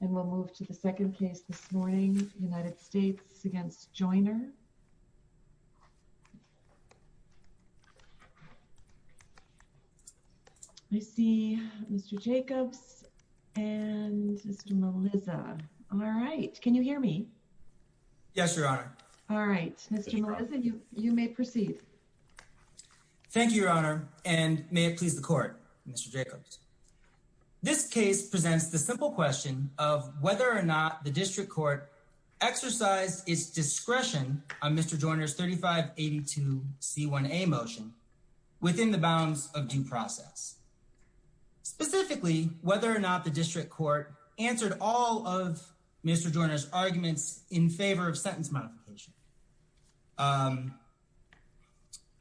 And we'll move to the second case this morning, United States v. Joiner. I see Mr. Jacobs and Mr. Melissa. All right, can you hear me? Yes, Your Honor. All right, Mr. Melissa, you may proceed. Thank you, Your Honor, and may it please the Court, Mr. Jacobs. This case presents the simple question of whether or not the District Court exercised its discretion on Mr. Joiner's 3582c1a motion within the bounds of due process. Specifically, whether or not the District Court answered all of Mr. Joiner's arguments in favor of sentence modification.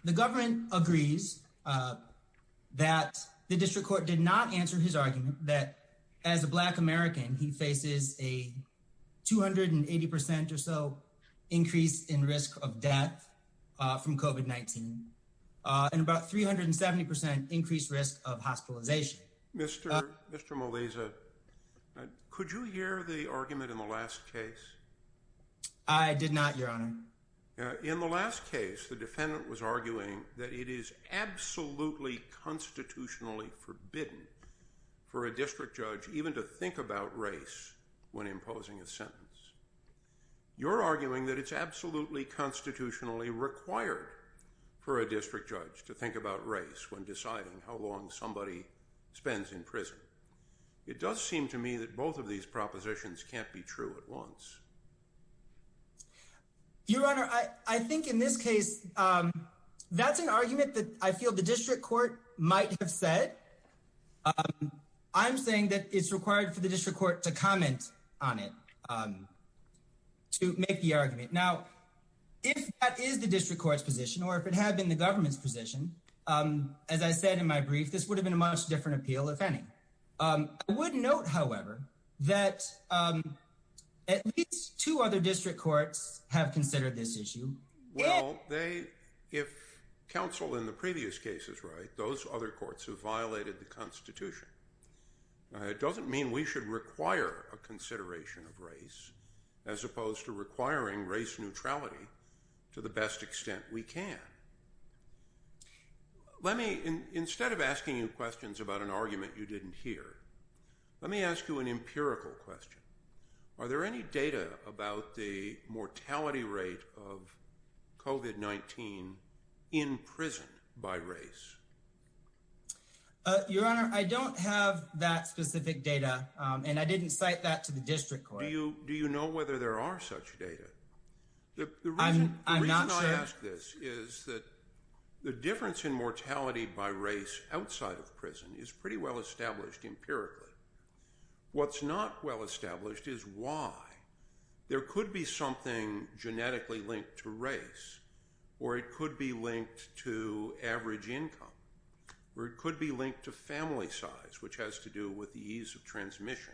The government agrees that the District Court did not answer his argument that as a Black American, he faces a 280% or so increase in risk of death from COVID-19 and about 370% increased risk of hospitalization. Mr. Melissa, could you hear the argument in the last case? I did not, Your Honor. In the last case, the defendant was arguing that it is absolutely constitutionally forbidden for a district judge even to think about race when imposing a sentence. You're arguing that it's absolutely constitutionally required for a district judge to think about race when deciding how long somebody spends in prison. It does seem to me that both of these propositions can't be true at once. Your Honor, I think in this case, that's an argument that I feel the District Court might have said. I'm saying that it's required for the District Court to comment on it, to make the argument. Now, if that is the District Court's position or if it had been the government's position, as I said in my brief, this would have been a much different appeal, if any. I would note, however, that at least two other District Courts have considered this issue. Well, if counsel in the previous case is right, those other courts have violated the Constitution. It doesn't mean we should require a consideration of race as opposed to requiring race neutrality to the best extent we can. Let me, instead of asking you questions about an argument you didn't hear, let me ask you an empirical question. Are there any data about the mortality rate of COVID-19 in prison by race? Your Honor, I don't have that specific data, and I didn't cite that to the District Court. Do you know whether there are such data? The reason I ask this is that the difference in mortality by race outside of prison is pretty well established empirically. What's not well established is why. There could be something genetically linked to race, or it could be linked to average income, or it could be linked to family size, which has to do with the ease of transmission,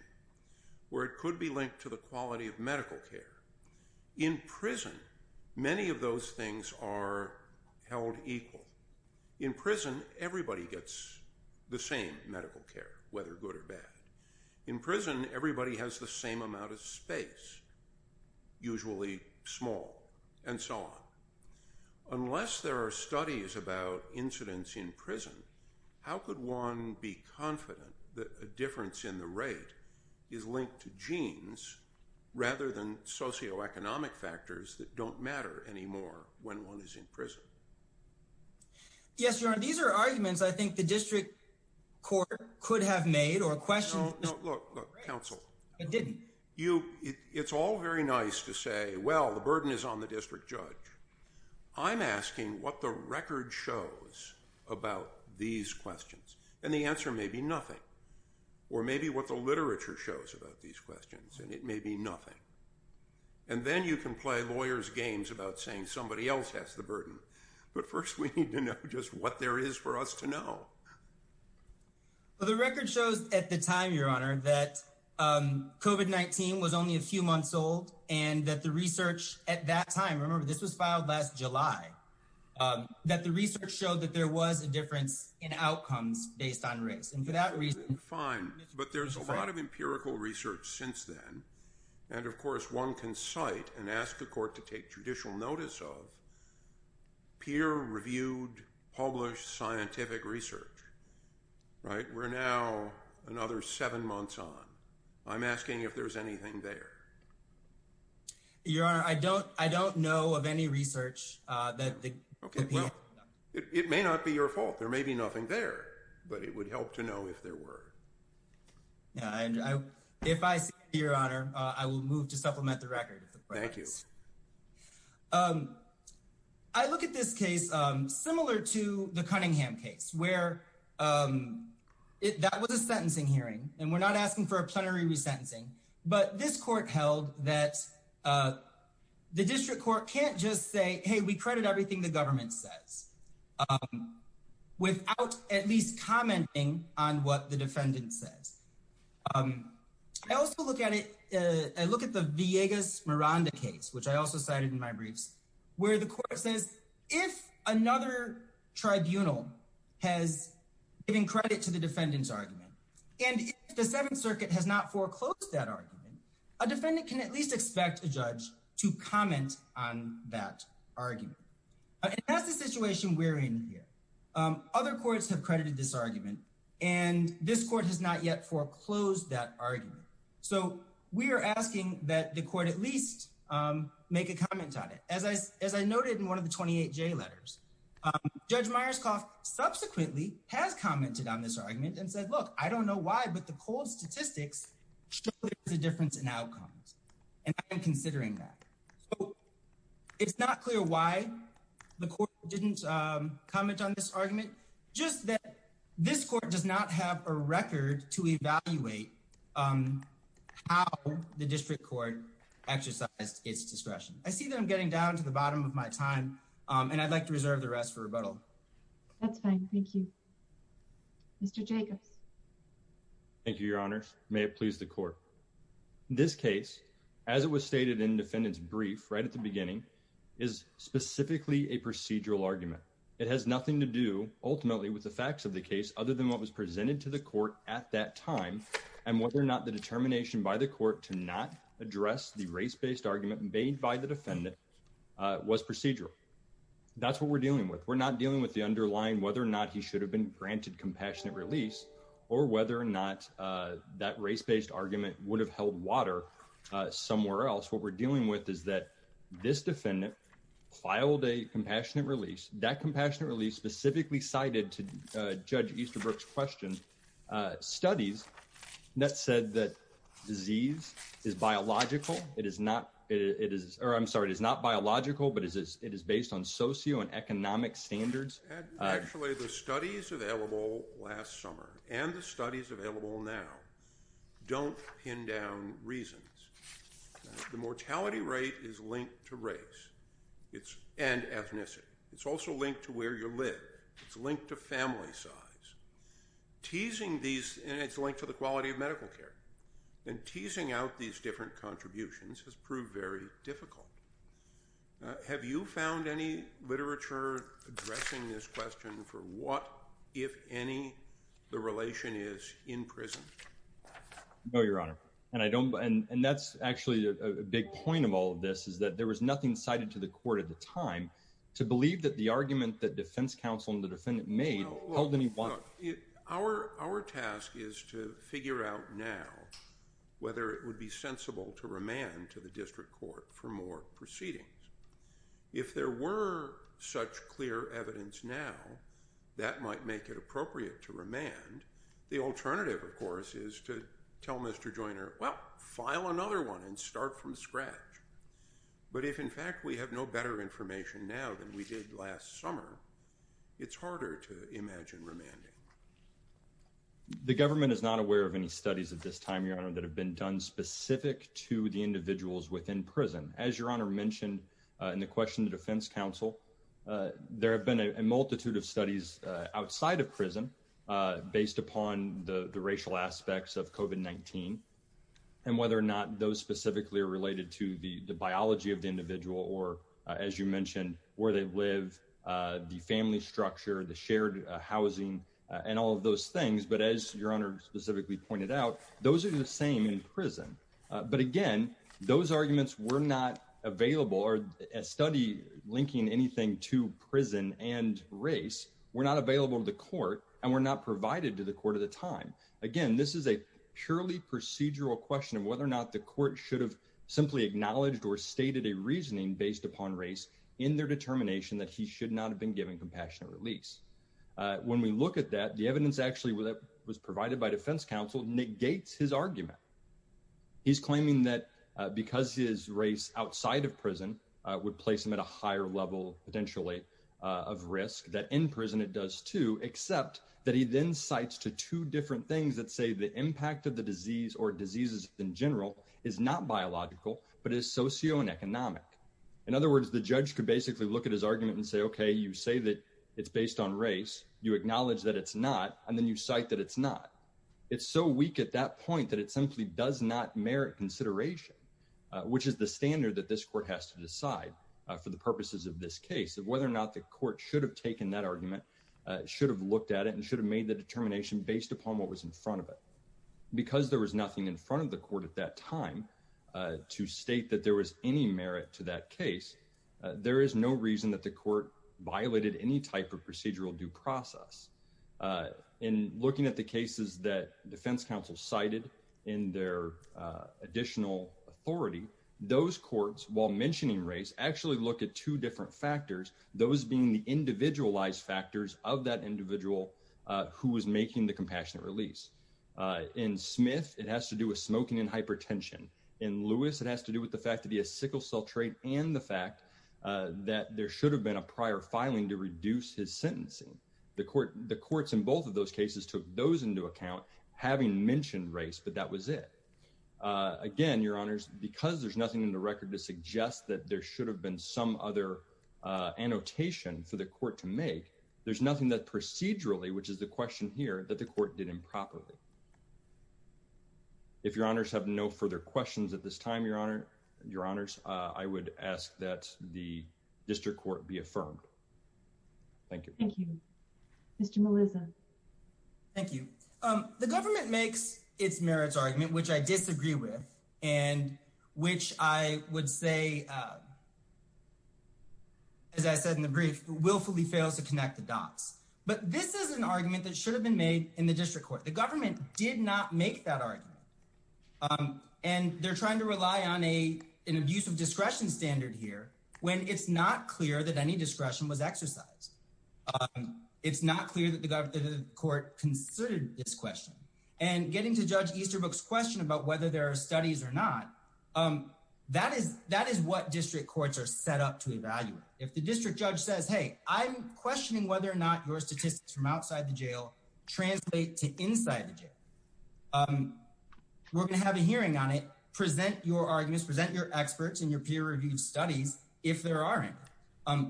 or it could be linked to the quality of medical care. In prison, many of those things are held equal. In prison, everybody gets the same medical care, whether good or bad. In prison, everybody has the same amount of space, usually small, and so on. Unless there are studies about incidents in prison, how could one be confident that a don't matter anymore when one is in prison? Yes, Your Honor. These are arguments I think the District Court could have made or questions— No, no. Look, look, counsel. I didn't. You—it's all very nice to say, well, the burden is on the district judge. I'm asking what the record shows about these questions, and the answer may be nothing, or maybe what the literature shows about these questions, and it may be nothing. And then you can play lawyer's games about saying somebody else has the burden, but first we need to know just what there is for us to know. Well, the record shows at the time, Your Honor, that COVID-19 was only a few months old, and that the research at that time—remember, this was filed last July—that the research showed that there was a difference in outcomes based on race, and for that reason— Fine, but there's a lot of empirical research since then, and, of course, one can cite and ask a court to take judicial notice of peer-reviewed, published scientific research, right? We're now another seven months on. I'm asking if there's anything there. Your Honor, I don't know of any research that— Okay, well, it may not be your fault. There may be nothing there, but it would help to know if there were. Yeah, and if I see it, Your Honor, I will move to supplement the record. Thank you. I look at this case similar to the Cunningham case, where that was a sentencing hearing, and we're not asking for a plenary resentencing, but this court held that the district court can't just say, hey, we credit everything the government says, without at least commenting on what the defendant says. I also look at the Villegas-Miranda case, which I also cited in my briefs, where the court says, if another tribunal has given credit to the defendant's argument, and if the Seventh Circuit has not foreclosed that argument, a defendant can at least expect a judge to comment on that argument. And that's the situation we're in here. Other courts have credited this argument, and this court has not yet foreclosed that argument. So we are asking that the court at least make a comment on it. As I noted in one of the 28J letters, Judge Myerscough subsequently has commented on this argument and said, look, I don't know why, but the cold statistics show there's a difference in outcomes, and I'm considering that. So it's not clear why the court didn't comment on this argument, just that this court does not have a record to evaluate how the district court exercised its discretion. I see that I'm getting down to the bottom of my time, and I'd like to reserve the rest for rebuttal. That's fine. Thank you. Thank you, Your Honor. May it please the court. This case, as it was stated in defendant's brief right at the beginning, is specifically a procedural argument. It has nothing to do ultimately with the facts of the case, other than what was presented to the court at that time, and whether or not the determination by the court to not address the race-based argument made by the defendant was procedural. That's what we're dealing with. We're not dealing with the underlying whether or not he should have been granted compassionate release, or whether or not that race-based argument would have held water somewhere else. What we're dealing with is that this defendant filed a compassionate release. That compassionate release specifically cited, to Judge Easterbrook's question, studies that said that disease is biological. It is not biological, but it is based on socio and economic standards. Actually, the studies available last summer, and the studies available now, don't pin down reasons. The mortality rate is linked to race and ethnicity. It's also linked to where you live. It's linked to family size. And it's linked to the quality of medical care. And teasing out these different contributions has proved very difficult. Now, have you found any literature addressing this question for what, if any, the relation is in prison? No, Your Honor. And I don't, and that's actually a big point of all of this, is that there was nothing cited to the court at the time to believe that the argument that defense counsel and the defendant made held any water. Well, look, our task is to figure out now whether it would be sensible to remand to the district court for more proceedings. If there were such clear evidence now, that might make it appropriate to remand. The alternative, of course, is to tell Mr. Joyner, well, file another one and start from scratch. But if, in fact, we have no better information now than we did last summer, it's harder to imagine remanding. So, we do have a number of studies that have been done specific to the individuals within prison. As Your Honor mentioned in the question to defense counsel, there have been a multitude of studies outside of prison, based upon the racial aspects of COVID-19, and whether or not those specifically are related to the biology of the individual, or as you mentioned, where they live, the family structure, the shared housing, and all of those things. But as Your Honor specifically pointed out, those are the same in prison. But again, those arguments were not available, or a study linking anything to prison and race were not available to the court, and were not provided to the court at the time. Again, this is a purely procedural question of whether or not the court should have simply acknowledged or stated a reasoning based upon race in their determination that he should not have been given compassionate release. When we look at that, the evidence actually that was provided by defense counsel negates his argument. He's claiming that because his race outside of prison would place him at a higher level potentially of risk, that in prison it does too, except that he then cites to two different things that say the impact of the disease or diseases in general is not biological, but is socio and economic. In other words, the judge could basically look at his argument and say, you say that it's based on race, you acknowledge that it's not, and then you cite that it's not. It's so weak at that point that it simply does not merit consideration, which is the standard that this court has to decide for the purposes of this case, of whether or not the court should have taken that argument, should have looked at it, and should have made the determination based upon what was in front of it. Because there was nothing in front of the court at that time to state that there was any merit to that case, there is no reason that the court violated any type of procedural due process. In looking at the cases that defense counsel cited in their additional authority, those courts, while mentioning race, actually look at two different factors, those being the individualized factors of that individual who was making the compassionate release. In Smith, it has to do with smoking and hypertension. In Lewis, it has to do with the fact to be a sickle cell trait and the fact that there should have been a prior filing to reduce his sentencing. The courts in both of those cases took those into account, having mentioned race, but that was it. Again, Your Honors, because there's nothing in the record to suggest that there should have been some other annotation for the court to make, there's nothing that procedurally, which is the question here, that the court did improperly. If Your Honors have no further questions at this time, Your Honors, I would ask that the district court be affirmed. Thank you. Thank you. Mr. Melisa. Thank you. The government makes its merits argument, which I disagree with, and which I would say, as I said in the brief, willfully fails to connect the dots. But this is an argument that should have been made in the district court. The government did not make that argument. And they're trying to rely on an abuse of discretion standard here when it's not clear that any discretion was exercised. It's not clear that the court considered this question. And getting to Judge Easterbrook's question about whether there are studies or not, that is what district courts are set up to evaluate. If the district judge says, hey, I'm questioning whether or not your statistics from outside the jail translate to inside the jail. We're going to have a hearing on it. Present your arguments. Present your experts and your peer-reviewed studies if there aren't.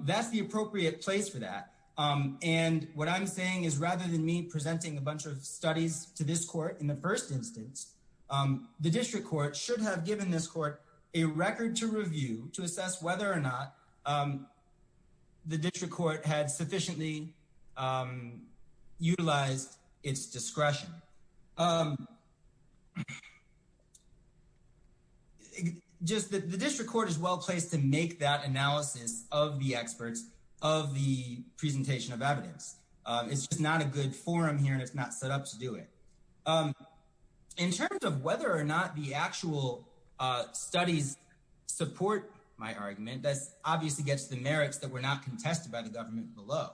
That's the appropriate place for that. And what I'm saying is rather than me presenting a bunch of studies to this court in the first instance, the district court should have given this court a record to review to assess whether or not the district court had sufficiently utilized its discretion. And the district court is well-placed to make that analysis of the experts, of the presentation of evidence. It's just not a good forum here and it's not set up to do it. In terms of whether or not the actual studies support my argument, that obviously gets the merits that were not contested by the government below.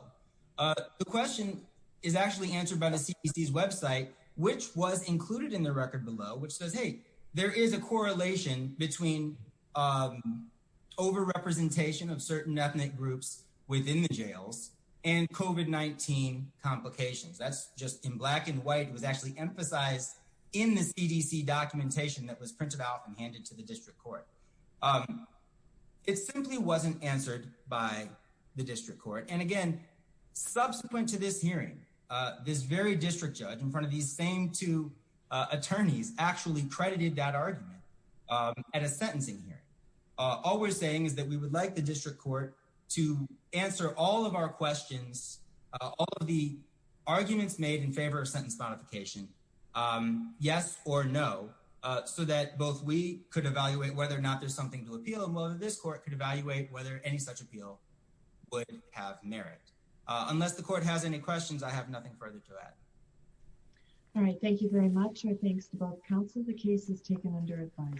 The question is actually answered by the CDC's website, which was included in the record below, which says, hey, there is a correlation between over-representation of certain ethnic groups within the jails and COVID-19 complications. That's just in black and white was actually emphasized in the CDC documentation that was printed out and handed to the district court. It simply wasn't answered by the district court. Again, subsequent to this hearing, this very district judge in front of these same two attorneys actually credited that argument at a sentencing hearing. All we're saying is that we would like the district court to answer all of our questions, all of the arguments made in favor of sentence modification, yes or no, so that both we could evaluate whether or not there's something to appeal and whether this court could evaluate whether any such appeal would have merit. Unless the court has any questions, I have nothing further to add. All right, thank you very much. Our thanks to both counsel. The case is taken under advice.